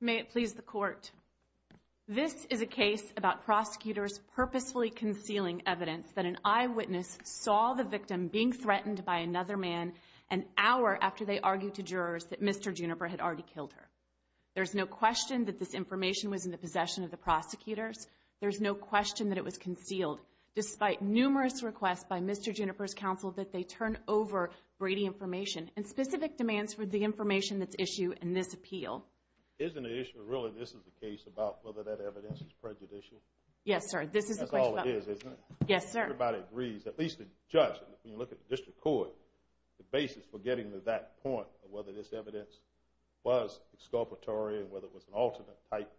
May it please the court. This is a case about prosecutors purposefully concealing evidence that an eyewitness saw the victim being threatened by another man an hour after they argued to jurors that Mr. Juniper had already killed her. There's no question that this information was in the possession of the prosecutors. There's no question that it was concealed despite numerous requests by Mr. Juniper's counsel that they turn over Brady information and specific demands for the information that's issue in this appeal. Isn't the issue really this is the case about whether that evidence is prejudicial. Yes sir. This is all it is isn't it. Yes sir. Everybody agrees at least the judge. When you look at the district court the basis for getting to that point whether this evidence was exculpatory and whether it was an alternate type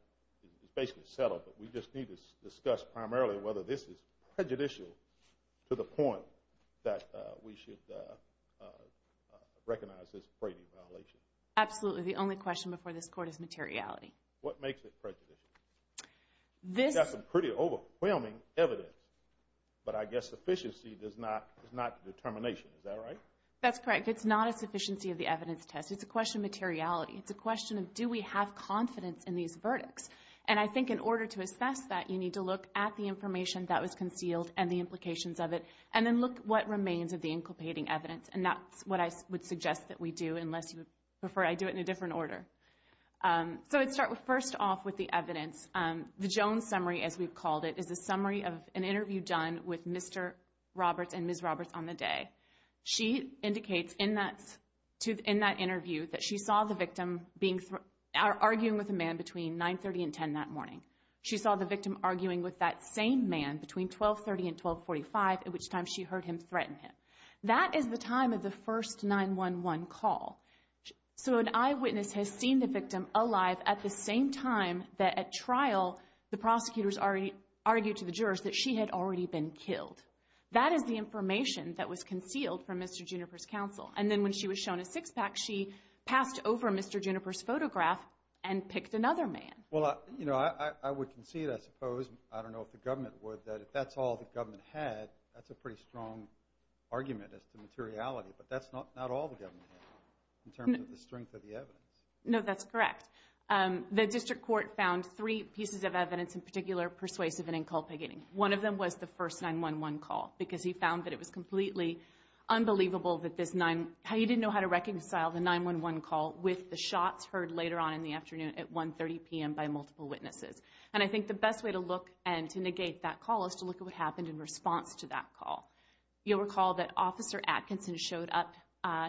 is basically settled but we just need to discuss primarily whether this is prejudicial to the point that we should recognize this Brady violation. Absolutely. The only question before this court is materiality. What makes it prejudicial? This is a pretty overwhelming evidence but I guess efficiency does not is not the determination. Is that right? That's correct. It's not a sufficiency of the evidence test. It's a question of materiality. It's a question of do we have confidence in these verdicts? And I think in order to assess that you need to look at the information that was concealed and the implications of it and then look what remains of the inculpating evidence and that's what I would suggest that we do unless you prefer I do it in a different order. So let's start first off with the evidence. The Jones summary as we've called it is a summary of an interview done with Mr. Roberts and Ms. Roberts on the day. She indicates in that interview that she saw the victim arguing with a man between 9.30 and 10 that morning. She saw the victim arguing with that same man between 12.30 and 12.45 at which time she heard him threaten him. That is the time of the first 911 call. So an eyewitness has seen the victim alive at the same time that at trial the prosecutors already argued to the jurors that she had already been killed. That is the information that was concealed from Mr. Juniper's counsel. And then when she was shown a six-pack, she passed over Mr. Juniper's photograph and picked another man. Well, you know, I would concede, I suppose, I don't know if the government would, that if that's all the government had, that's a pretty strong argument as to materiality. But that's not all the government had in terms of the strength of the evidence. No, that's correct. The district court found three pieces of evidence in particular persuasive and inculpating. One of them was the first 911 call because he found that it was completely unbelievable that this nine, how he didn't know how to reconcile the 911 call with the shots heard later on in the afternoon at 1.30 p.m. by multiple witnesses. And I think the best way to look and to negate that call is to look at what happened in response to that call. You'll recall that Officer Atkinson showed up.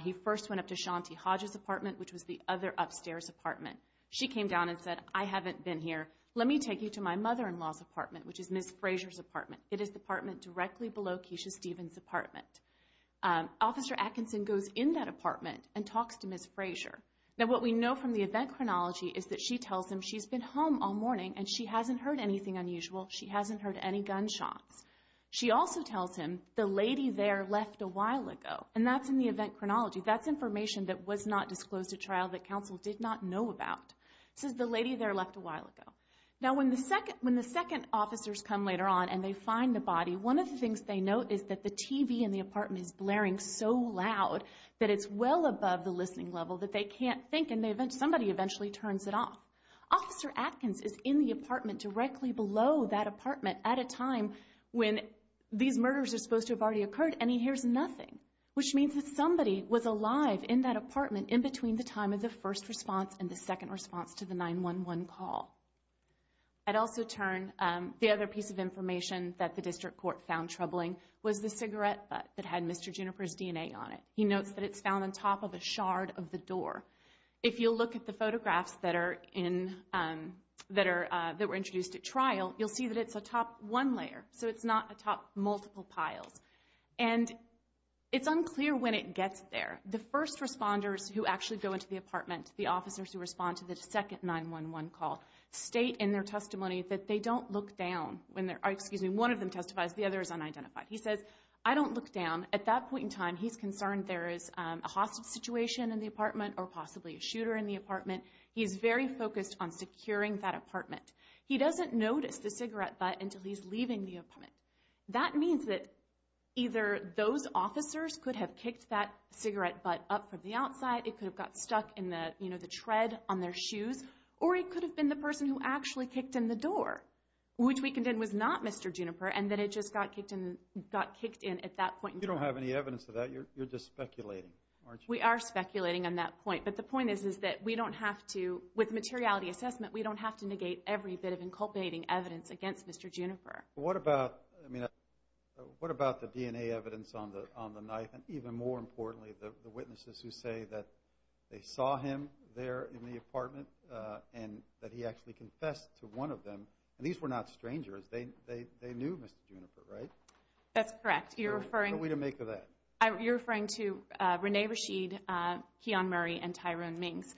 He first went up to Shanti Hodges' apartment, which was the other upstairs apartment. She came down and said, I haven't been here. Let me take you to my mother-in-law's apartment, which is Ms. Frazier's apartment. It is the apartment directly below Keisha Stevens' apartment. Officer Atkinson goes in that apartment and talks to Ms. Frazier. Now what we know from the event chronology is that she tells him she's been home all morning and she hasn't heard anything unusual. She hasn't heard any gunshots. She also tells him the lady there left a while ago. And that's in the event chronology. That's information that was not disclosed to trial that counsel did not know about. It says the lady there left a while ago. Now when the second officers come later on and they find the body, one of the things they note is that the TV in the apartment is blaring so loud that it's well above the listening level that they can't think and somebody eventually turns it off. Officer Atkins is in the apartment directly below that apartment at a time when these murders are supposed to have already occurred and he hears nothing, which means that somebody was alive in that apartment in between the time of the first response and the second response to the 911 call. At also turn, the other piece of information that the district court found troubling was the cigarette butt that had Mr. Juniper's DNA on it. He notes that it's found on top of a shard of the door. If you'll look at the photographs that were introduced at trial, you'll see that it's atop one layer, so it's not atop multiple piles. And it's unclear when it gets there. The first responders who actually go into the apartment, the officers who respond to the second 911 call, state in their testimony that they don't look down. One of them testifies. The other is unidentified. He says, I don't look down. At that point in time, he's concerned there is a hostage situation in the apartment or possibly a shooter in the apartment. He's very focused on securing that apartment. He doesn't notice the cigarette butt until he's leaving the apartment. That means that either those officers could have kicked that cigarette butt up from the outside, it could have got stuck in the, you know, the tread on their shoes, or it could have been the person who actually kicked in the door, which we condemn was not Mr. Juniper and that it just got kicked in at that point in time. You don't have any evidence of that, you're just speculating, aren't you? We are speculating on that point, but the point is that we don't have to, with materiality assessment, we don't have to negate every bit of inculcating evidence against Mr. Juniper. What about, I mean, what about the DNA evidence on the knife, and even more importantly, the witnesses who say that they saw him there in the apartment and that he actually confessed to one of them? And these were not strangers. They knew Mr. Juniper, right? That's correct. You're referring... What are we to make of that? You're referring to Rene Rashid, Keon Murray, and Tyrone Mings.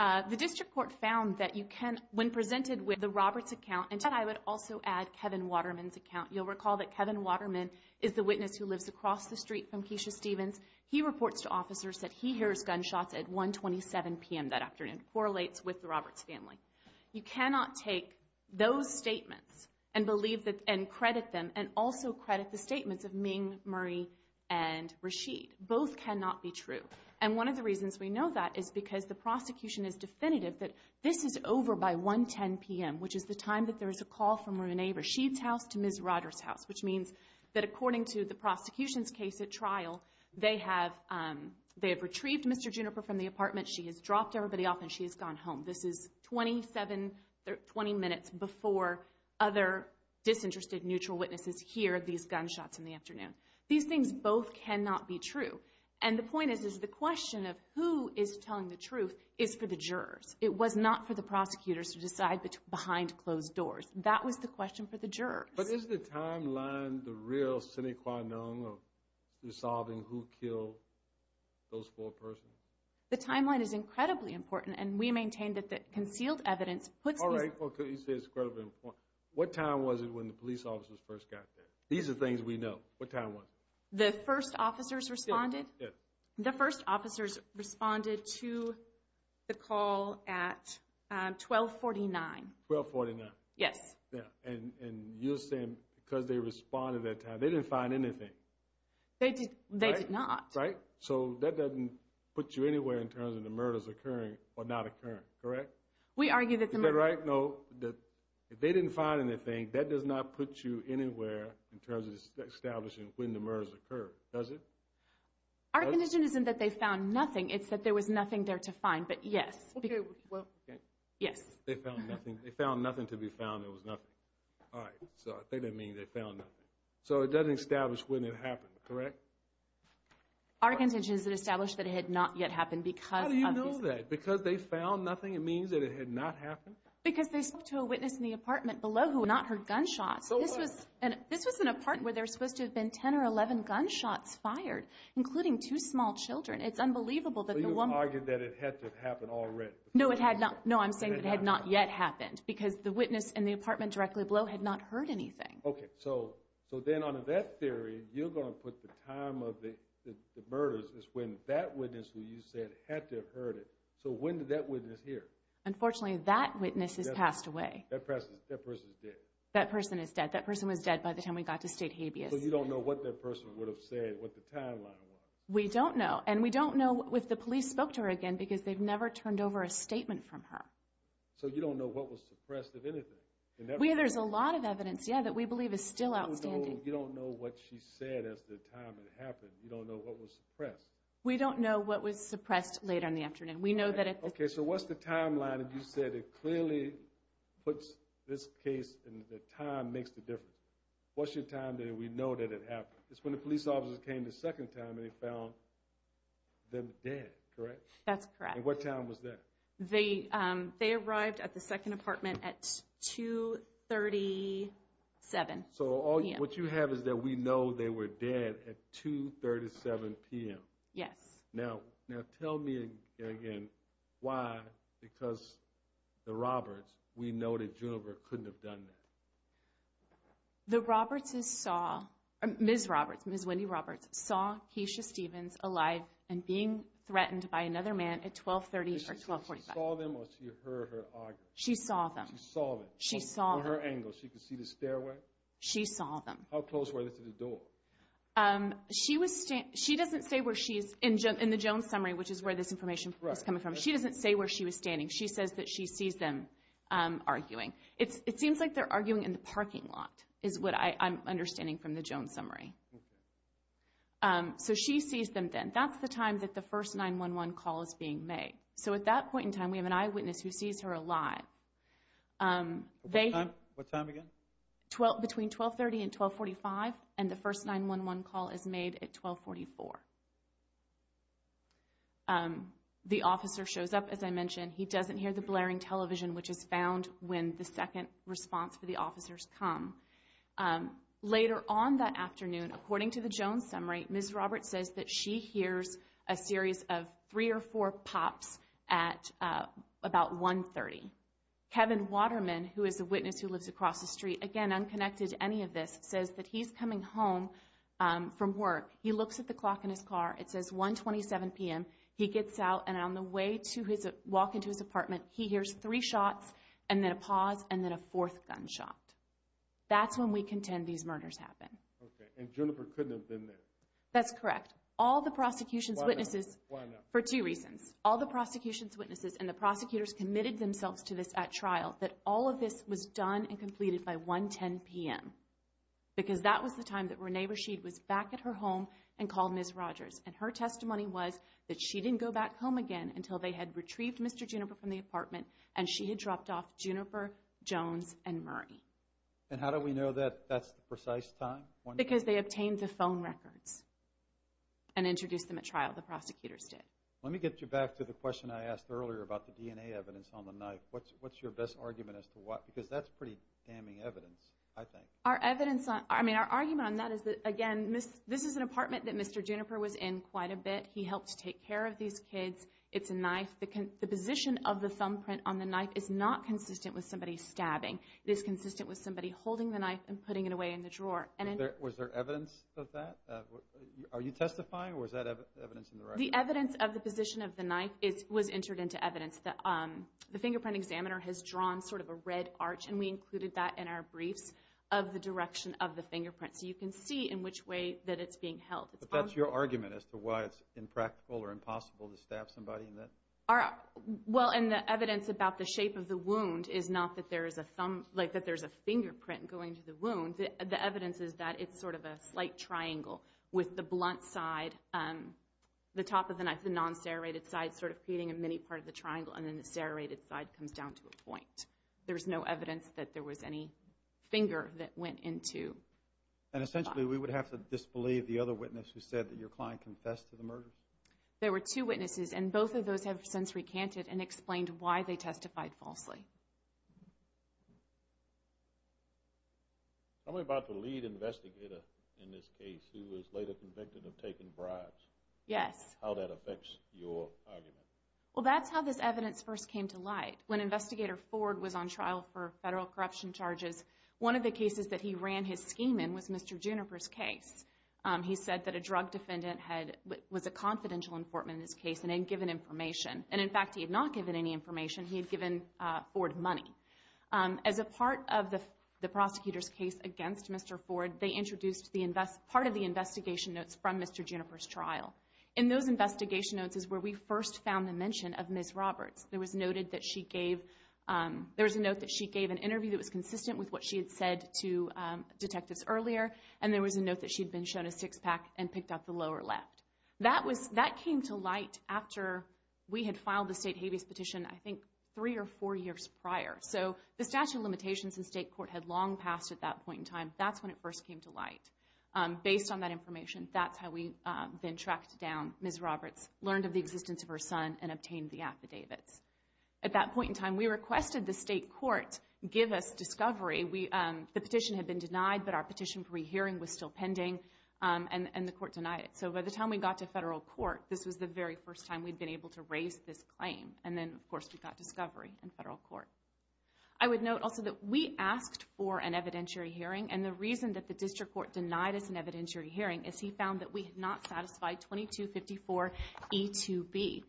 The district court found that you can, when presented with the Roberts account, and I would also add Kevin Waterman's account. You'll recall that Kevin Waterman is the witness who lives across the street from Keisha Stevens. He reports to officers that he hears gunshots at 1 27 p.m. that afternoon, correlates with the Roberts family. You cannot take those statements and believe that, and credit them, and also credit the statements of Ming, Murray, and Rashid. Both cannot be true, and one of the reasons we know that is because the prosecution is definitive that this is over by 1 10 p.m., which is the time that there is a call from Rene Rashid's house to Ms. Rogers' house, which means that according to the prosecution's case at trial, they have retrieved Mr. Juniper from the apartment. She has dropped everybody off, and she has gone home. This is 27, 20 minutes before other disinterested neutral witnesses hear these gunshots in the afternoon. These things both cannot be true, and the point is, is the question of who is telling the truth is for the jurors. It was not for the prosecutors to decide behind closed doors. That was the question for the jurors. But is the timeline the real sine qua non of resolving who killed those four persons? The timeline is incredibly important, and we maintain that the concealed evidence puts these... All right, okay, you say it's incredibly important. What time was it when the police officers first got there? These are things we know. What time was it? The first officers responded? Yeah, yeah. The first officers responded to the call at 12 49. 12 49? Yes. Yeah, and you're saying because they responded at that time, they didn't find anything. They did not. Right? So that doesn't put you anywhere in terms of the murders occurring or not occurring, correct? We argue that the murder... Is that right? No. If they didn't find anything, that does not put you anywhere in terms of establishing when the murders occurred, does it? Our condition isn't that they found nothing. It's that there was nothing there to find, but yes. Yes. They found nothing. They found nothing to be found. There was nothing. All right, so I think they mean they found nothing. So it doesn't establish when it happened, correct? Our contention is it established that it had not yet happened because of these... How do you know that? Because they found nothing, it means that it had not happened? Because they spoke to a witness in the apartment below who had not heard gunshots. This was an apartment where there's supposed to have been 10 or 11 gunshots fired, including two small children. It's unbelievable that the woman... So you've argued that it had to have happened already. No, it had not. No, I'm saying it had not yet happened because the witness in the apartment directly below had not heard anything. Okay, so then on that theory, you're going to put the time of the murders is when that witness who you said had to have heard it. So when did that witness hear? Unfortunately, that witness has passed away. That person is dead? That person is dead. That person was dead by the time we got to State Habeas. So you don't know what that person would have said, what the timeline was? We don't know. And we don't know if the police spoke to her again because they've never turned over a statement from her. So you don't know what was suppressed of anything? There's a lot of evidence, yeah, that we believe is still outstanding. You don't know what she said as the time it happened. You don't know what was suppressed. We don't know what was suppressed late on the afternoon. We know that it... Okay, so what's the timeline? And you said it clearly puts this case and the time makes the difference. What's your time that we know that it happened? It's when the police officers came the second time and they found them dead, correct? That's correct. And what time was that? They arrived at the second apartment at 2.37 p.m. So what you have is that we know they were dead at 2.37 p.m. Yes. Now tell me again why, because the Roberts, we know that Juniper couldn't have done that. The Robertses saw, Ms. Roberts, Ms. Wendy Roberts saw Keisha Stevens alive and being She saw them or she heard her argue? She saw them. She saw them. She saw them. From her angle, she could see the stairway? She saw them. How close were they to the door? She doesn't say where she is in the Jones summary, which is where this information is coming from. She doesn't say where she was standing. She says that she sees them arguing. It seems like they're arguing in the parking lot is what I'm understanding from the Jones summary. So she sees them then. That's the time that the first 911 call is being made. So at that point in time, we have an eyewitness who sees her alive. What time? What time again? Between 12.30 and 12.45 and the first 911 call is made at 12.44. The officer shows up, as I mentioned, he doesn't hear the blaring television, which is found when the second response for the officers come. Later on that afternoon, according to the Jones summary, Ms. Roberts says that she hears a series of three or four pops at about 1.30. Kevin Waterman, who is a witness who lives across the street, again, unconnected to any of this, says that he's coming home from work. He looks at the clock in his car. It says 1.27 p.m. He gets out and on the way to his walk into his apartment, he hears three shots and then a pause and then a fourth gunshot. That's when we contend these murders happen. Okay. And Jennifer couldn't have been there. That's correct. All the prosecution's witnesses, for two reasons, all the prosecution's witnesses and the prosecutors committed themselves to this at trial that all of this was done and completed by 1.10 p.m. Because that was the time that Renee Rashid was back at her home and called Ms. Rogers and her testimony was that she didn't go back home again until they had retrieved Mr. Juniper from the apartment and she had dropped off Juniper, Jones and Murray. And how do we know that that's the precise time? Because they obtained the phone records. And introduced them at trial. The prosecutors did. Let me get you back to the question I asked earlier about the DNA evidence on the knife. What's your best argument as to why? Because that's pretty damning evidence, I think. Our evidence, I mean, our argument on that is that, again, this is an apartment that Mr. Juniper was in quite a bit. He helped take care of these kids. It's a knife. The position of the thumbprint on the knife is not consistent with somebody stabbing. It is consistent with somebody holding the knife and putting it away in the drawer. And was there evidence of that? Are you testifying or is that evidence in the record? The evidence of the position of the knife was entered into evidence. The fingerprint examiner has drawn sort of a red arch. And we included that in our briefs of the direction of the fingerprint. So you can see in which way that it's being held. But that's your argument as to why it's impractical or impossible to stab somebody in that? Well, and the evidence about the shape of the wound is not that there is a thumb, like that there's a fingerprint going to the wound. The evidence is that it's sort of a slight triangle with the blunt side, the top of the knife, the non-serrated side sort of creating a mini part of the triangle. And then the serrated side comes down to a point. There's no evidence that there was any finger that went into the spot. And essentially, we would have to disbelieve the other witness who said that your client confessed to the murders? There were two witnesses. And both of those have since recanted and explained why they testified falsely. Tell me about the lead investigator in this case who was later convicted of taking bribes. Yes. How that affects your argument? Well, that's how this evidence first came to light. When Investigator Ford was on trial for federal corruption charges, one of the cases that he ran his scheme in was Mr. Juniper's case. He said that a drug defendant had, was a confidential informant in this case and had given information. He had given four different pieces of evidence. As a part of the prosecutor's case against Mr. Ford, they introduced the invest, part of the investigation notes from Mr. Juniper's trial. In those investigation notes is where we first found the mention of Ms. Roberts. There was noted that she gave, there was a note that she gave an interview that was consistent with what she had said to detectives earlier. And there was a note that she'd been shown a six pack and picked up the lower left. That was, that came to light after we had filed the state habeas petition, I think three or four years prior. So the statute of limitations in state court had long passed at that point in time. That's when it first came to light. Based on that information, that's how we then tracked down Ms. Roberts, learned of the existence of her son and obtained the affidavits. At that point in time, we requested the state court give us discovery. We, the petition had been denied, but our petition pre-hearing was still pending and the court denied it. So by the time we got to federal court, this was the very first time we'd been able to raise this claim. And then of course we got discovery in federal court. I would note also that we asked for an evidentiary hearing. And the reason that the district court denied us an evidentiary hearing is he found that we had not satisfied 2254 E2B.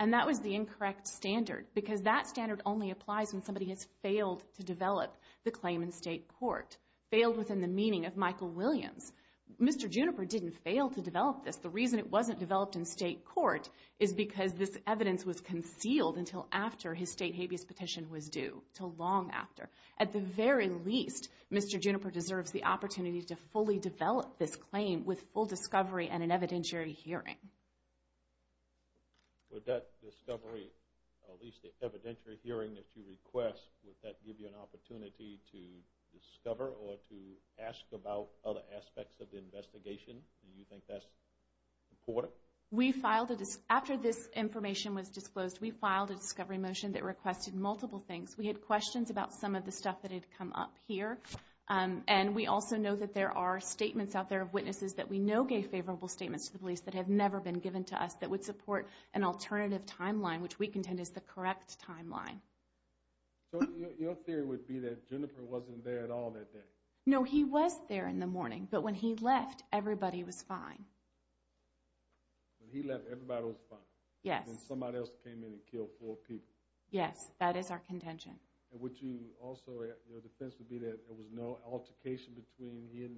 And that was the incorrect standard, because that standard only applies when somebody has failed to develop the claim in state court. Failed within the meaning of Michael Williams. Mr. Juniper didn't fail to develop this. The reason it wasn't developed in state court is because this evidence was concealed until after his state habeas petition was due. Till long after. At the very least, Mr. Juniper deserves the opportunity to fully develop this claim with full discovery and an evidentiary hearing. With that discovery, at least the evidentiary hearing that you request, would that give you an opportunity to discover or to ask about other aspects of the investigation? Do you think that's important? We filed a... After this information was disclosed, we filed a discovery motion that requested multiple things. We had questions about some of the stuff that had come up here. And we also know that there are statements out there of witnesses that we know gave favorable statements to the police that have never been given to us that would support an alternative timeline, which we contend is the correct timeline. So your theory would be that Juniper wasn't there at all that day? No, he was there in the morning. But when he left, everybody was fine. When he left, everybody was fine? Yes. When somebody else came in and killed four people? Yes, that is our contention. And would you also... Your defense would be that there was no altercation between him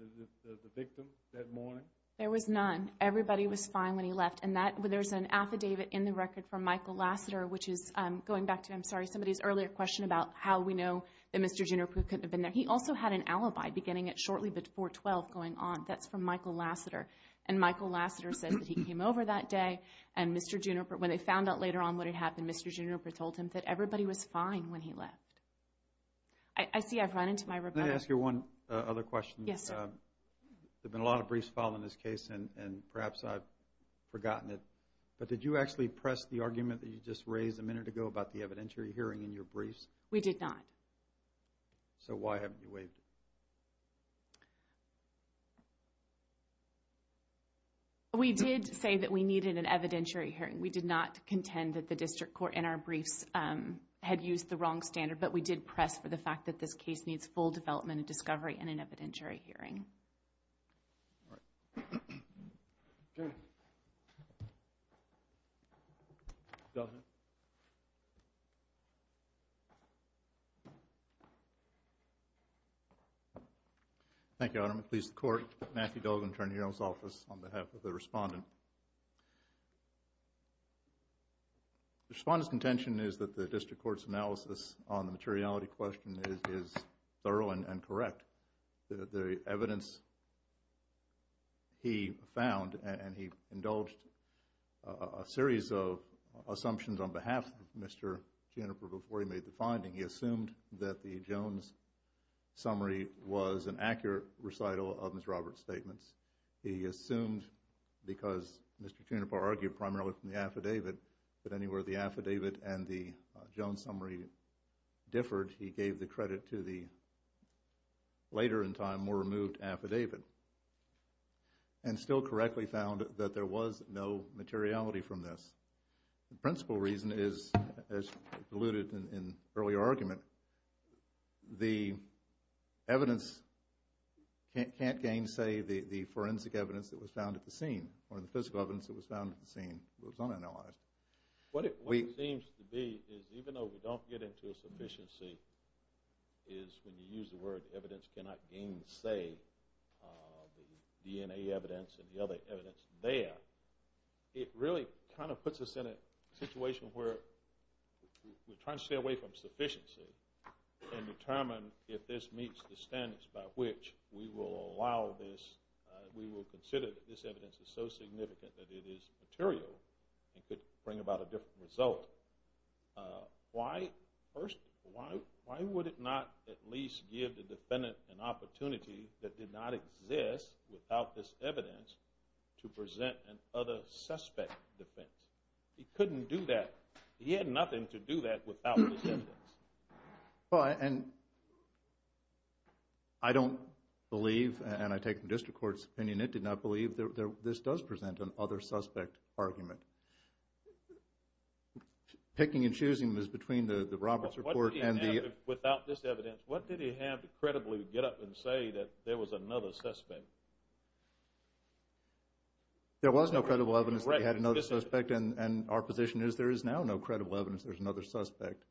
and the victim that morning? There was none. Everybody was fine when he left. And there's an affidavit in the record from Michael Lasseter, which is going back to, I'm sorry, somebody's earlier question about how we know that Mr. Juniper couldn't have been there. He also had an alibi beginning at shortly before 12 going on. That's from Michael Lasseter. And Michael Lasseter says that he came over that day and Mr. Juniper... When they found out later on what had happened, Mr. Juniper told him that everybody was fine when he left. I see I've run into my rebuttal. Can I ask you one other question? Yes, sir. There have been a lot of briefs filed on this case and perhaps I've forgotten it, but did you actually press the argument that you just raised a minute ago about the evidentiary hearing in your briefs? We did not. So why haven't you waived it? We did say that we needed an evidentiary hearing. We did not contend that the district court in our briefs had used the wrong standard, but we did press for the fact that this case needs full development and discovery in an evidentiary hearing. All right. Thank you, Your Honor. I'm going to please the Court. Matthew Dogan, Attorney General's Office, on behalf of the Respondent. The Respondent's intention is that the district court's analysis on the materiality question is thorough and correct. The evidence he found, and he indulged a series of assumptions on behalf of Mr. Juniper before he made the finding, he assumed that the Jones summary was an accurate recital of Mr. Roberts' statements. He assumed, because Mr. Juniper argued primarily from the affidavit, that anywhere the affidavit and the Jones summary differed, he gave the credit to the later in time, more removed affidavit, and still correctly found that there was no materiality from this. The principal reason is, as alluded in the earlier argument, the evidence can't gainsay the forensic evidence that was found at the scene, or the physical evidence that was found at the scene. It was unanalyzed. What it seems to be is, even though we don't get into a sufficiency, is when you use the word evidence cannot gainsay the DNA evidence and the other evidence there, it really kind of puts us in a situation where we're trying to stay away from sufficiency. And determine if this meets the standards by which we will allow this, we will consider that this evidence is so significant that it is material and could bring about a different result. Why, first, why would it not at least give the defendant an opportunity that did not exist without this evidence to present an other suspect defense? He couldn't do that. He had nothing to do that without this evidence. Well, and I don't believe, and I take the district court's opinion, it did not believe this does present an other suspect argument. Picking and choosing was between the Roberts report and the... Without this evidence, what did he have to credibly get up and say that there was another suspect? There was no credible evidence that he had another suspect, and our position is there is now no credible evidence there's another suspect.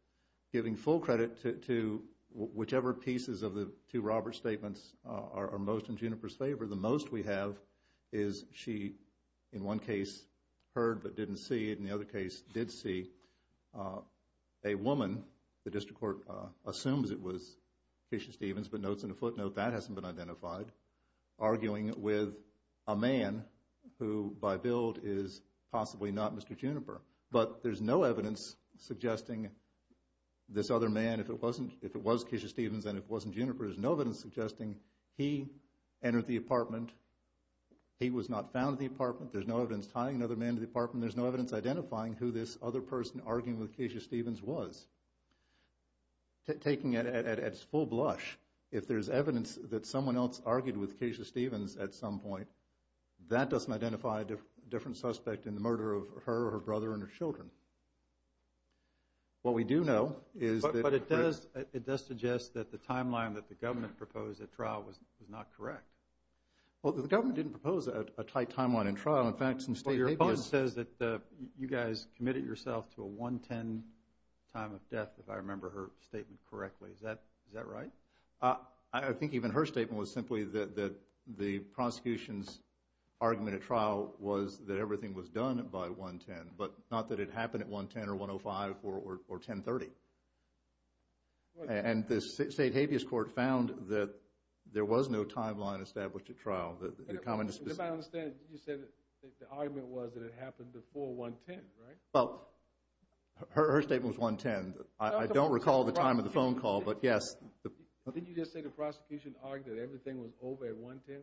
Giving full credit to whichever pieces of the two Roberts statements are most in Juniper's favor, the most we have is she, in one case, heard but didn't see it, in the other case, did see a woman, the district court assumes it was Tisha Stevens, but notes in a footnote that hasn't been identified, arguing with a man who by build is possibly not Mr. Juniper. But there's no evidence suggesting this other man, if it was Tisha Stevens and it wasn't Juniper, there's no evidence suggesting he entered the apartment, he was not found at the apartment, there's no evidence tying another man to the apartment, there's no evidence identifying who this other person arguing with Tisha Stevens was. Taking it at full blush, if there's evidence that someone else argued with Tisha Stevens at some point, that doesn't identify a different suspect in the murder of her or her brother and her children. What we do know is that- But it does suggest that the timeline that the government proposed at trial was not correct. Well, the government didn't propose a tight timeline in trial. In fact, some state media says that you guys committed yourself to a 110 time of death, if I remember her statement correctly. Is that right? I think even her statement was simply that the prosecution's argument at trial was that everything was done by 110, but not that it happened at 110 or 105 or 1030. And the state habeas court found that there was no timeline established at trial. And if I understand, you said that the argument was that it happened before 110, right? Well, her statement was 110. I don't recall the time of the phone call, but yes. Didn't you just say the prosecution argued that everything was over at 110?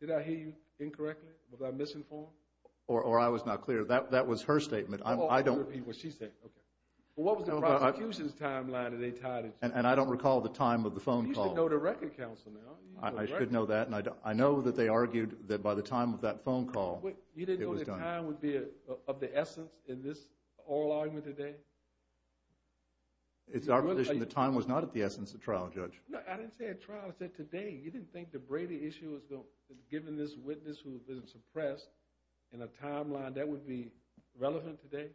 Did I hear you incorrectly? Was I misinformed? Or I was not clear. That was her statement. I don't- Well, she said. Okay. Well, what was the prosecution's timeline that they tied it to? And I don't recall the time of the phone call. You should know the record counsel now. I should know that. And I know that they argued that by the time of that phone call, it was done. You didn't know the time would be of the essence in this oral argument today? It's our position the time was not at the essence of trial, Judge. No, I didn't say at trial. I said today. You didn't think the Brady issue was going- Suppressed in a timeline that would be relevant today?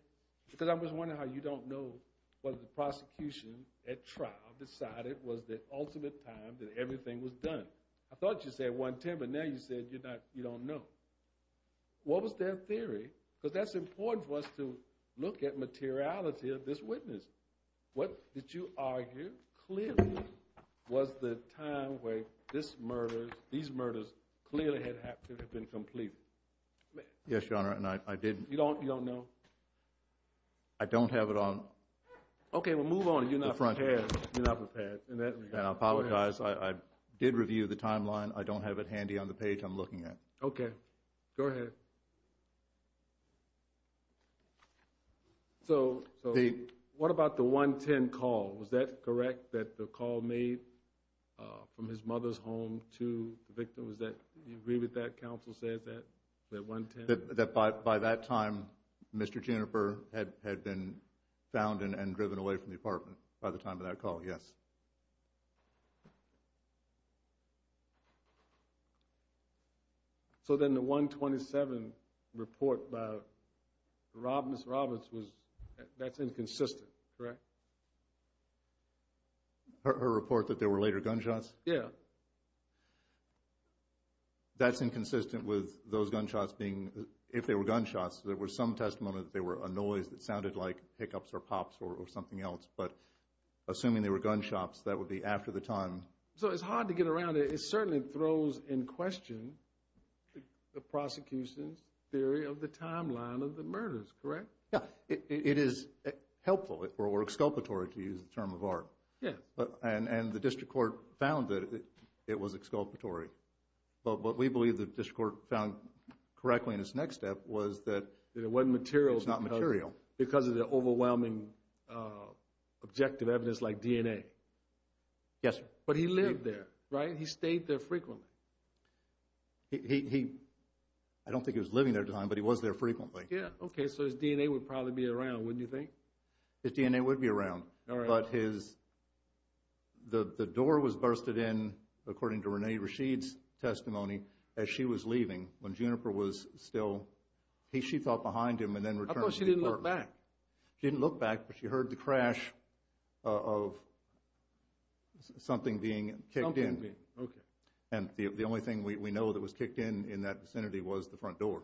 Because I was wondering how you don't know whether the prosecution at trial decided was the ultimate time that everything was done. I thought you said 110, but now you said you don't know. What was their theory? Because that's important for us to look at materiality of this witness. What did you argue? Clearly was the time where these murders clearly had to have been completed. Yes, Your Honor, and I didn't- You don't know? I don't have it on- OK, well, move on. You're not prepared. You're not prepared. And I apologize. I did review the timeline. I don't have it handy on the page I'm looking at. OK, go ahead. Was that correct, that the call made from his mother's home to the victim? Do you agree with that? Counsel said that, that 110? That by that time, Mr. Jenifer had been found and driven away from the apartment by the time of that call, yes. So then the 127 report by Ms. Roberts, that's inconsistent, correct? Her report that there were later gunshots? Yeah. That's inconsistent with those gunshots being, if they were gunshots, there was some testimony that they were a noise that sounded like hiccups or pops or something else. But assuming they were gunshots, that would be after the time. So it's hard to get around it. It certainly throws in question the prosecution's theory of the timeline of the murders, correct? Yeah, it is helpful or exculpatory to use the term of art. Yeah. And the district court found that it was exculpatory. But what we believe the district court found correctly in its next step was that it wasn't material. It's not material. Because of the overwhelming objective evidence like DNA. Yes, sir. But he lived there, right? He stayed there frequently. I don't think he was living there at the time, but he was there frequently. Yeah, OK. So his DNA would probably be around, wouldn't you think? His DNA would be around. But the door was bursted in, according to Renee Rasheed's testimony, as she was leaving. When Juniper was still, she thought behind him and then returned to the courtroom. I thought she didn't look back. She didn't look back, but she heard the crash of something being kicked in. OK. And the only thing we know that was kicked in in that vicinity was the front door.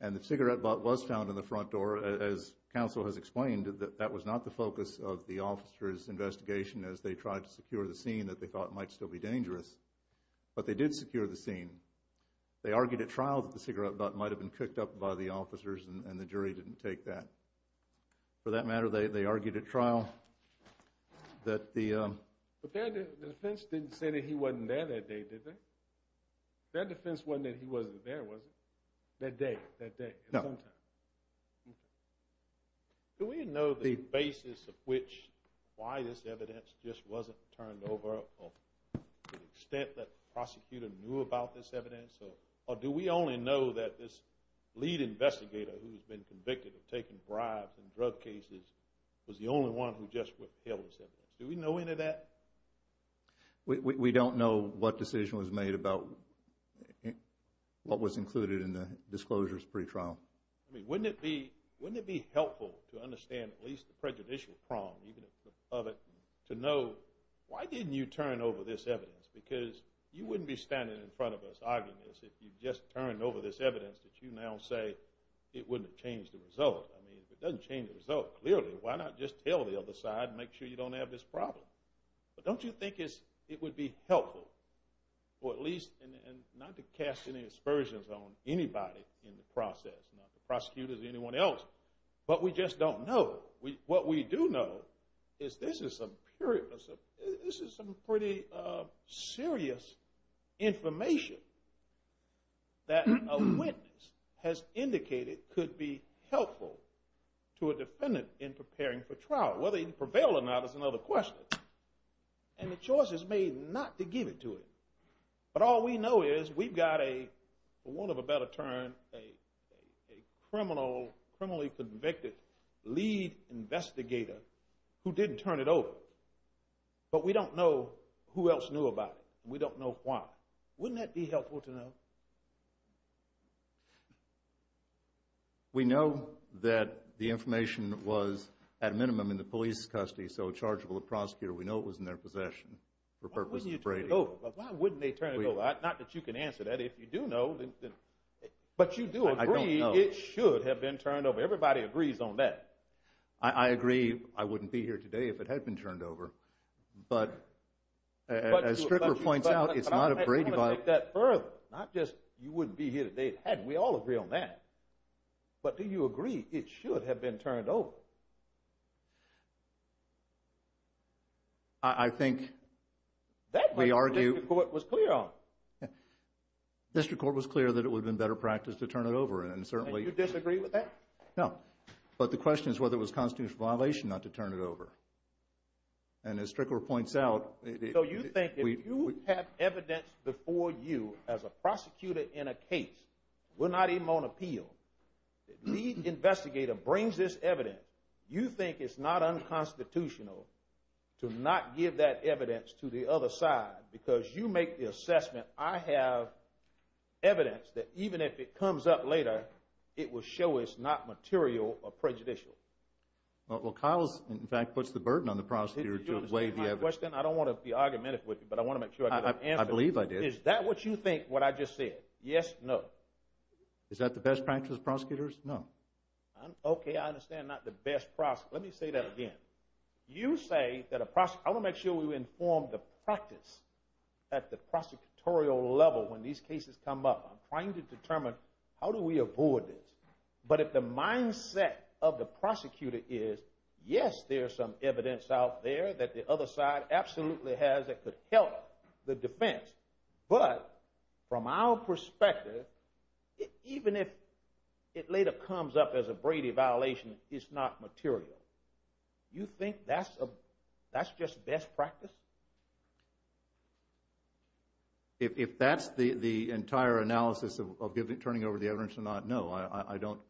And the cigarette butt was found in the front door, as counsel has explained, that that was not the focus of the officer's investigation as they tried to secure the scene that they thought might still be dangerous. But they did secure the scene. They argued at trial that the cigarette butt might have been cooked up by the officers, and the jury didn't take that. For that matter, they argued at trial that the- But their defense didn't say that he wasn't there that day, did they? Their defense wasn't that he wasn't there, was it? That day? That day? No. Do we know the basis of which, why this evidence just wasn't turned over to the extent that the prosecutor knew about this evidence, or do we only know that this lead investigator who's been convicted of taking bribes in drug cases was the only one who just withheld this evidence? Do we know any of that? We don't know what decision was made about what was included in the disclosures pre-trial. I mean, wouldn't it be helpful to understand at least the Why didn't you turn over this evidence? Because you wouldn't be standing in front of us arguing this if you just turned over this evidence that you now say it wouldn't have changed the result. I mean, if it doesn't change the result, clearly, why not just tell the other side and make sure you don't have this problem? But don't you think it would be helpful for at least- And not to cast any aspersions on anybody in the process, not the prosecutors or anyone else. But we just don't know. What we do know is this is some pretty serious information that a witness has indicated could be helpful to a defendant in preparing for trial. Whether he'd prevail or not is another question. And the choice is made not to give it to him. But all we know is we've got a, for want of a better term, a criminal, criminally convicted lead investigator who didn't turn it over. But we don't know who else knew about it. We don't know why. Wouldn't that be helpful to know? We know that the information was, at minimum, in the police custody, so it's chargeable to the prosecutor. We know it was in their possession for purposes of Why wouldn't you turn it over? Why wouldn't they turn it over? Not that you can answer that. If you do know. But you do agree it should have been turned over. Everybody agrees on that. I agree. I wouldn't be here today if it had been turned over. But as Stricker points out, it's not a Brady vote. I'm not going to take that further. Not just you wouldn't be here today if it hadn't. We all agree on that. But do you agree it should have been turned over? I think we argue. What was clear? District court was clear that it would have been better practice to turn it over. And certainly you disagree with that. No, but the question is whether it was constitutional violation not to turn it over. And as Strickler points out, so you think if you have evidence before you as a prosecutor in a case, we're not even on appeal. Lead investigator brings this evidence. You think it's not unconstitutional to not give that evidence to the other side because you make the assessment I have evidence that even if it comes up later, it will show it's not material or prejudicial. Well, Kyle's in fact, puts the burden on the prosecutor to weigh the evidence. I don't want to be argumentative with you, but I want to make sure I believe I did. Is that what you think? What I just said? Yes. No. Is that the best practice of prosecutors? No. OK, I understand. Not the best process. Let me say that again. You say that a prosecutor, I want to make sure we inform the practice at the prosecutorial level when these cases come up. I'm trying to determine how do we avoid this. But if the mindset of the prosecutor is, yes, there's some evidence out there that the other side absolutely has that could help the defense. But from our perspective, even if it later comes up as a Brady violation, it's not material. You think that's just best practice? If that's the entire analysis of turning over the evidence or not, no, I don't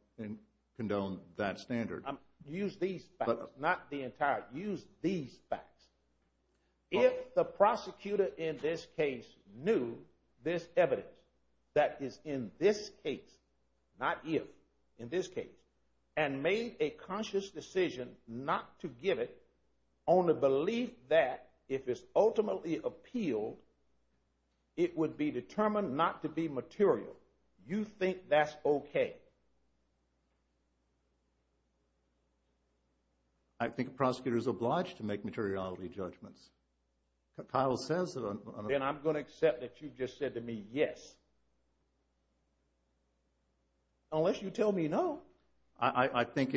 condone that standard. I'm using these facts, not the entire. Use these facts. If the prosecutor in this case knew this evidence that is in this case, not if, in this case, and made a conscious decision not to give it, only believe that if it's ultimately appealed, it would be determined not to be material. You think that's OK? I think a prosecutor is obliged to make materiality judgments. Kyle says that. And I'm going to accept that you just said to me, yes. Unless you tell me no. I think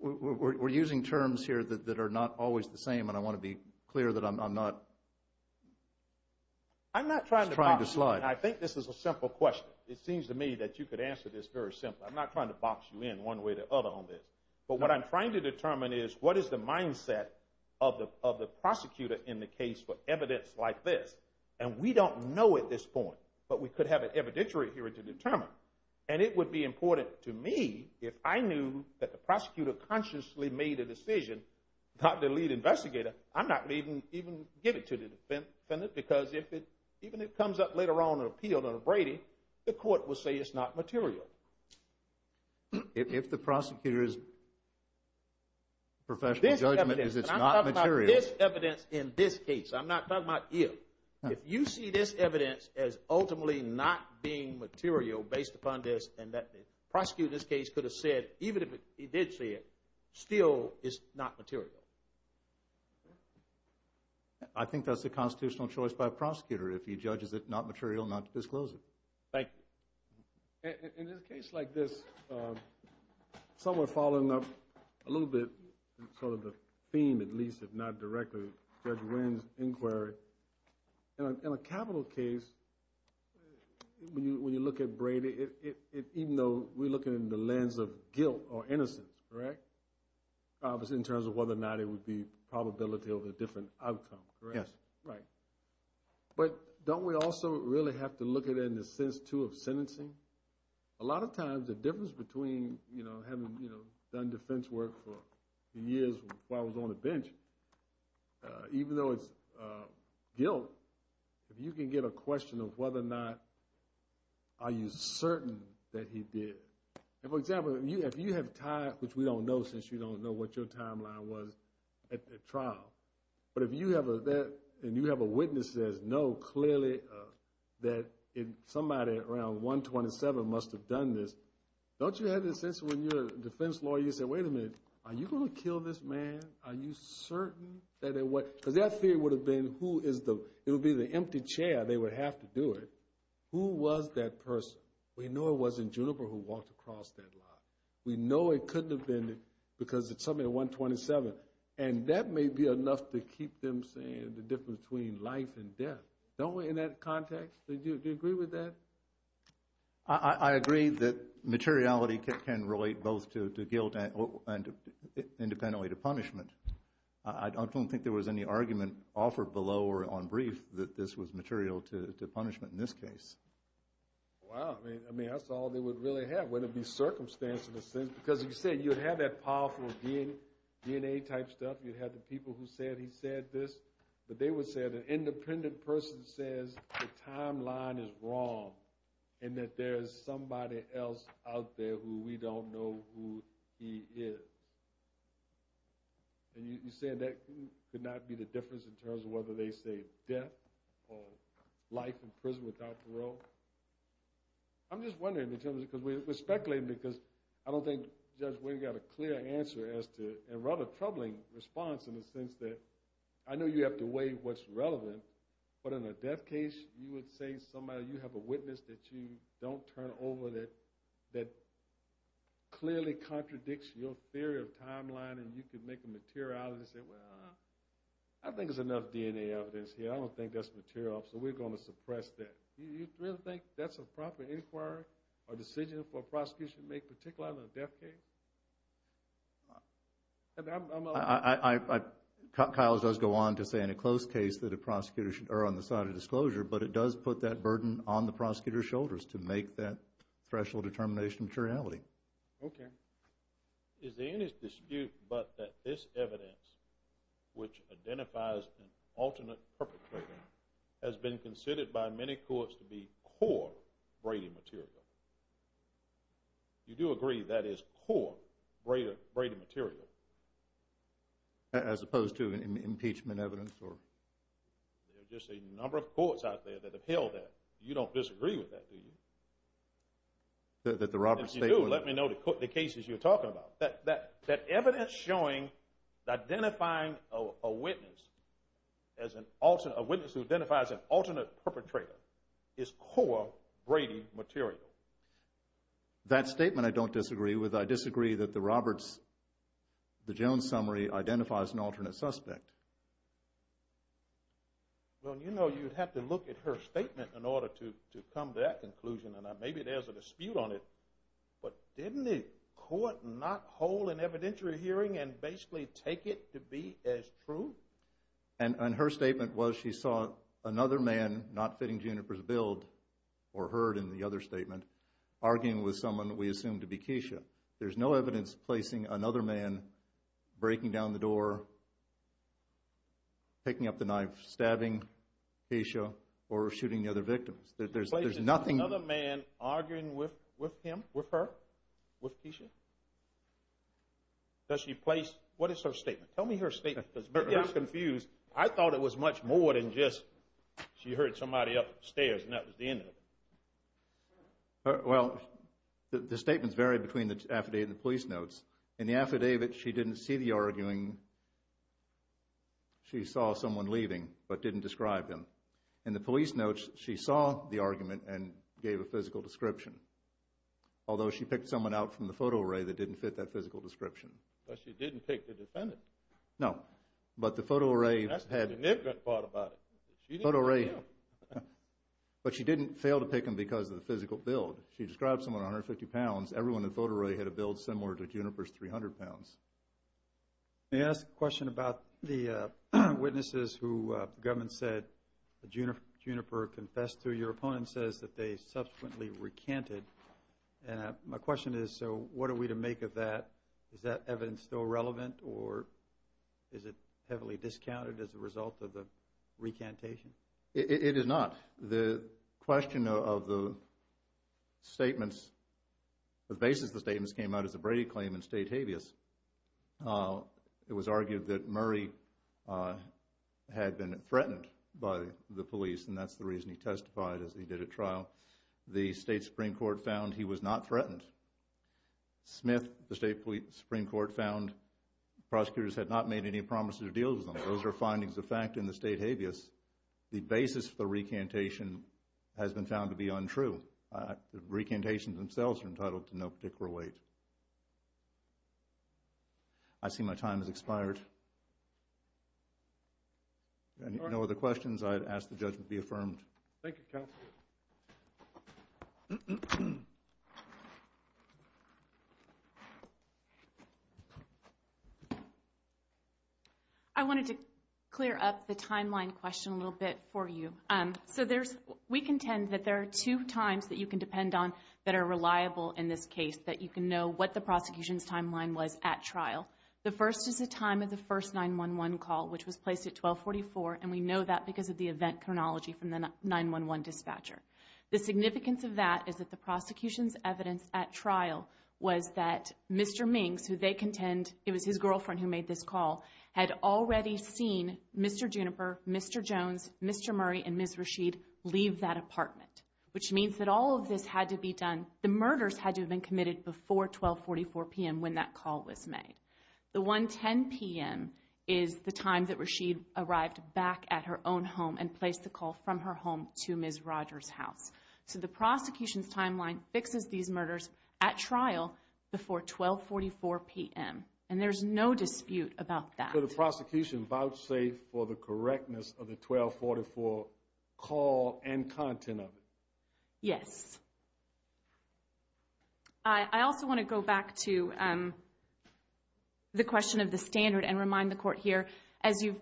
we're using terms here that are not always the same. And I want to be clear that I'm not trying to slide. I think this is a simple question. It seems to me that you could answer this very simply. I'm not trying to box you in one way or the other on this. But what I'm trying to determine is, what is the mindset of the prosecutor in the case for evidence like this? And we don't know at this point. But we could have an evidentiary hearing to determine. And it would be important to me if I knew that the prosecutor consciously made a decision, not the lead investigator. I'm not going to even give it to the defendant. Because even if it comes up later on in an appeal to Brady, the court will say it's not material. If the prosecutor's professional judgment is it's not material. This evidence in this case, I'm not talking about if. If you see this evidence as ultimately not being material based upon this and that the prosecutor in this case could have said, even if he did say it, still it's not material. I think that's a constitutional choice by a prosecutor. If he judges it not material, not to disclose it. Thank you. In a case like this, someone following up a little bit sort of theme, at least, if not directly, Judge Wynn's inquiry, in a capital case, when you look at Brady, even though we're looking in the lens of guilt or innocence, correct, in terms of whether or not it would be probability of a different outcome, correct? Yes. Right. But don't we also really have to look at it in the sense, too, of sentencing? A lot of times, the difference between having done defense work for years while I was on the bench, even though it's guilt, if you can get a question of whether or not are you certain that he did. For example, if you have time, which we don't know since you don't know what your timeline was at the trial, but if you have that and you have a witness that knows clearly that somebody around 127 must have done this, don't you have the sense when you're a defense lawyer, you say, wait a minute, are you going to kill this man? Are you certain that it was... Because that theory would have been who is the... It would be the empty chair. They would have to do it. Who was that person? We know it wasn't Juniper who walked across that lot. We know it couldn't have been because it's somebody at 127. And that may be enough to keep them saying the difference between life and death. Don't we, in that context, do you agree with that? I agree that materiality can relate both to guilt and independently to punishment. I don't think there was any argument offered below or on brief that this was material to punishment in this case. Wow. I mean, that's all they would really have. Wouldn't it be circumstance in a sense? Because you said you'd have that powerful DNA type stuff. You'd have the people who said he said this, but they would say that an independent person says the timeline is wrong and that there is somebody else out there who we don't know who he is. And you said that could not be the difference in terms of whether they say death or life in prison without parole. I'm just wondering in terms of... Because we're speculating because I don't think Judge Wayne got a clear answer as to... And rather troubling response in the sense that I know you have to weigh what's relevant, but in a death case, you would say somebody... You have a witness that you don't turn over that clearly contradicts your theory of timeline and you could make a materiality and say, well, I think there's enough DNA evidence here. I don't think that's material. So we're going to suppress that. Do you really think that's a proper inquiry or decision for a prosecution to make, particularly in a death case? I... Kyle does go on to say in a close case that a prosecutor should err on the side of disclosure, but it does put that burden on the prosecutor's shoulders to make that threshold determination materiality. Okay. Is there any dispute but that this evidence, which identifies an alternate perpetrator, has been considered by many courts to be core Brady material? You do agree that is core Brady material? As opposed to impeachment evidence or... There are just a number of courts out there that have held that. You don't disagree with that, do you? That the Roberts State... If you do, let me know the cases you're talking about. That evidence showing, identifying a witness as an alternate... A witness who identifies an alternate perpetrator is core Brady material. Okay. That statement I don't disagree with. I disagree that the Roberts... The Jones summary identifies an alternate suspect. Well, you know you'd have to look at her statement in order to come to that conclusion, and maybe there's a dispute on it, but didn't the court not hold an evidentiary hearing and basically take it to be as true? And her statement was she saw another man, not fitting Juniper's build, or heard in the other statement, arguing with someone we assume to be Keisha. There's no evidence placing another man breaking down the door, picking up the knife, stabbing Keisha, or shooting the other victims. There's nothing... Another man arguing with him, with her, with Keisha? Does she place... What is her statement? Tell me her statement because I'm confused. I thought it was much more than just she heard somebody upstairs, and that was the end of it. Well, the statements vary between the affidavit and the police notes. In the affidavit, she didn't see the arguing. She saw someone leaving, but didn't describe him. In the police notes, she saw the argument and gave a physical description, although she picked someone out from the photo array that didn't fit that physical description. But she didn't pick the defendant. No, but the photo array... That's the significant part about it. Photo array. But she didn't fail to pick him because of the physical build. She described someone 150 pounds. Everyone in the photo array had a build similar to Juniper's 300 pounds. May I ask a question about the witnesses who the government said Juniper confessed to? Your opponent says that they subsequently recanted. And my question is, so what are we to make of that? Is that evidence still relevant, or is it heavily discounted as a result of the recantation? It is not. The question of the statements, the basis of the statements came out as a Brady claim in state habeas. It was argued that Murray had been threatened by the police, and that's the reason he testified as he did at trial. The state Supreme Court found he was not threatened. Smith, the state Supreme Court found prosecutors had not made any promises to deal with him. Those are findings of fact in the state habeas. The basis for the recantation has been found to be untrue. The recantations themselves are entitled to no particular weight. I see my time has expired. No other questions? I'd ask the judge to be affirmed. Thank you, counsel. I wanted to clear up the timeline question a little bit for you. We contend that there are two times that you can depend on that are reliable in this case, that you can know what the prosecution's timeline was at trial. The first is the time of the first 911 call, which was placed at 1244, and we know that because of the event chronology from the 911 dispatcher. The significance of that is that the prosecution's evidence at trial was that Mr. Mings, who they contend it was his girlfriend who made this call, had already seen Mr. Juniper, Mr. Jones, Mr. Murray, and Ms. Rashid leave that apartment, which means that all of this had to be done, the murders had to have been committed before 1244 p.m. when that call was made. The 110 p.m. is the time that Rashid arrived back at her own home and placed the call from her home to Ms. Rogers' house. So the prosecution's timeline fixes these murders at trial before 1244 p.m., and there's no dispute about that. So the prosecution vouchsafed for the correctness of the 1244 call and content of it? Yes. I also want to go back to the question of the standard and remind the court here, as you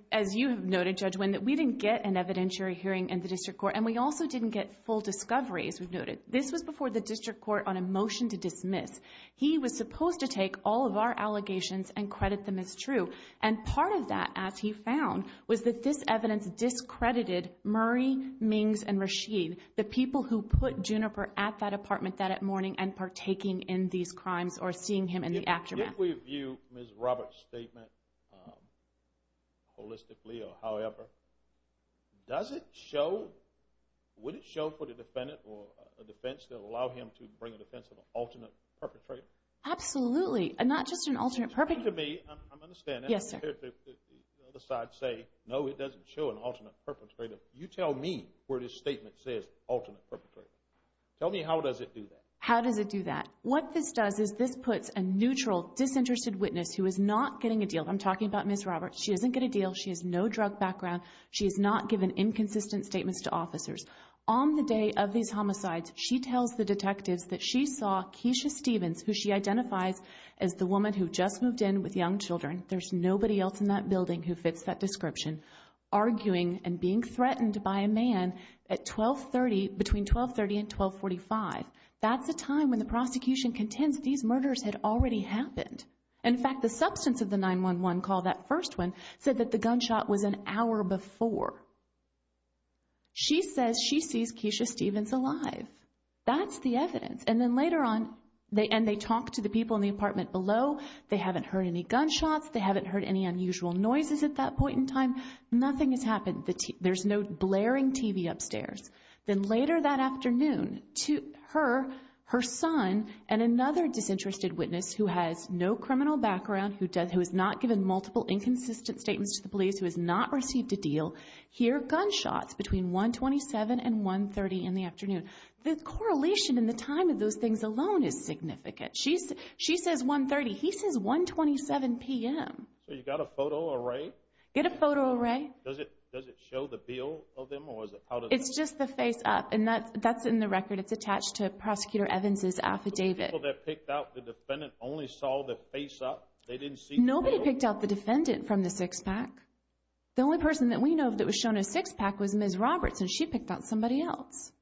have noted, Judge Wynn, that we didn't get an evidentiary hearing in the district court, and we also didn't get full discovery, as we've noted. This was before the district court on a motion to dismiss. He was supposed to take all of our allegations and credit them as true, and part of that, as he found, was that this evidence discredited Murray, Mings, and Rashid, the people who put Juniper at that apartment that morning and partaking in these crimes or seeing him in the aftermath. If we view Ms. Roberts' statement holistically or however, does it show, would it show for the defendant or a defense that would allow him to bring a defense of an alternate perpetrator? Absolutely, and not just an alternate perpetrator. To me, I'm understanding. Yes, sir. The other side say, no, it doesn't show an alternate perpetrator. You tell me where this statement says alternate perpetrator. Tell me how does it do that? How does it do that? What this does is this puts a neutral, disinterested witness who is not getting a deal. I'm talking about Ms. Roberts. She doesn't get a deal. She has no drug background. She has not given inconsistent statements to officers. On the day of these homicides, she tells the detectives that she saw Keisha Stevens, who she identifies as the woman who just moved in with young children, there's nobody else in that building who fits that description, arguing and being threatened by a man at 1230, between 1230 and 1245. That's a time when the prosecution contends these murders had already happened. In fact, the substance of the 911 call, that first one, said that the gunshot was an hour before. She says she sees Keisha Stevens alive. That's the evidence. And then later on, they, and they talk to the people in the apartment below. They haven't heard any gunshots. They haven't heard any unusual noises at that point in time. Nothing has happened. There's no blaring TV upstairs. Then later that afternoon, her, her son, and another disinterested witness who has no criminal background, who has not given multiple inconsistent statements to the police, who has not received a deal, hear gunshots between 127 and 130 in the afternoon. The correlation in the time of those things alone is significant. She's, she says 130. He says 127 p.m. So you got a photo array? Get a photo array. Does it, does it show the bill of them? It's just the face up. And that's, that's in the record. It's attached to Prosecutor Evans's affidavit. The people that picked out the defendant only saw the face up? They didn't see the bill? Nobody picked out the defendant from the six pack. The only person that we know that was shown a six pack was Ms. Roberts. And she picked out somebody else.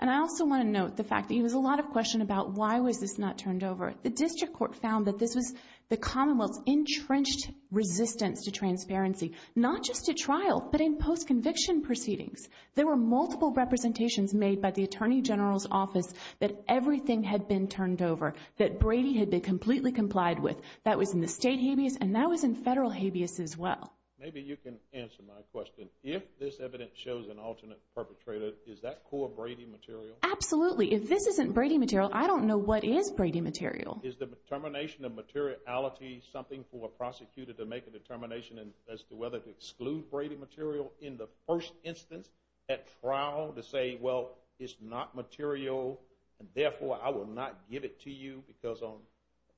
And I also want to note the fact that there was a lot of question about why was this not turned over. The District Court found that this was the Commonwealth's entrenched resistance to transparency, not just at trial, but in post-conviction proceedings. There were multiple representations made by the Attorney General's office that everything had been turned over, that Brady had been completely complied with. That was in the state habeas, and that was in federal habeas as well. Maybe you can answer my question. If this evidence shows an alternate perpetrator, is that core Brady material? Absolutely. If this isn't Brady material, I don't know what is Brady material. Is the determination of materiality something for a prosecutor to make a determination as to whether to exclude Brady material in the first instance at trial to say, well, it's not material and therefore I will not give it to you because on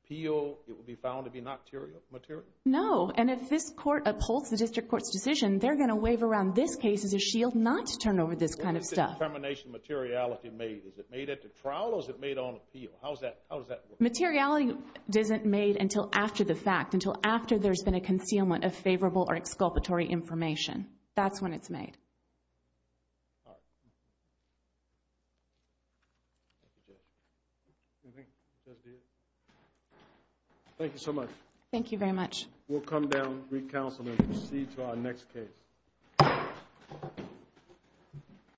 appeal it will be found to be not material? No. And if this court upholds the District Court's decision, they're going to wave around this case as a shield not to turn over this kind of stuff. When is the determination of materiality made? Is it made at the trial or is it made on appeal? How does that work? Materiality isn't made until after the fact, until after there's been a concealment of favorable or exculpatory information. That's when it's made. Thank you so much. Thank you very much. We'll come down, re-counsel and proceed to our next case.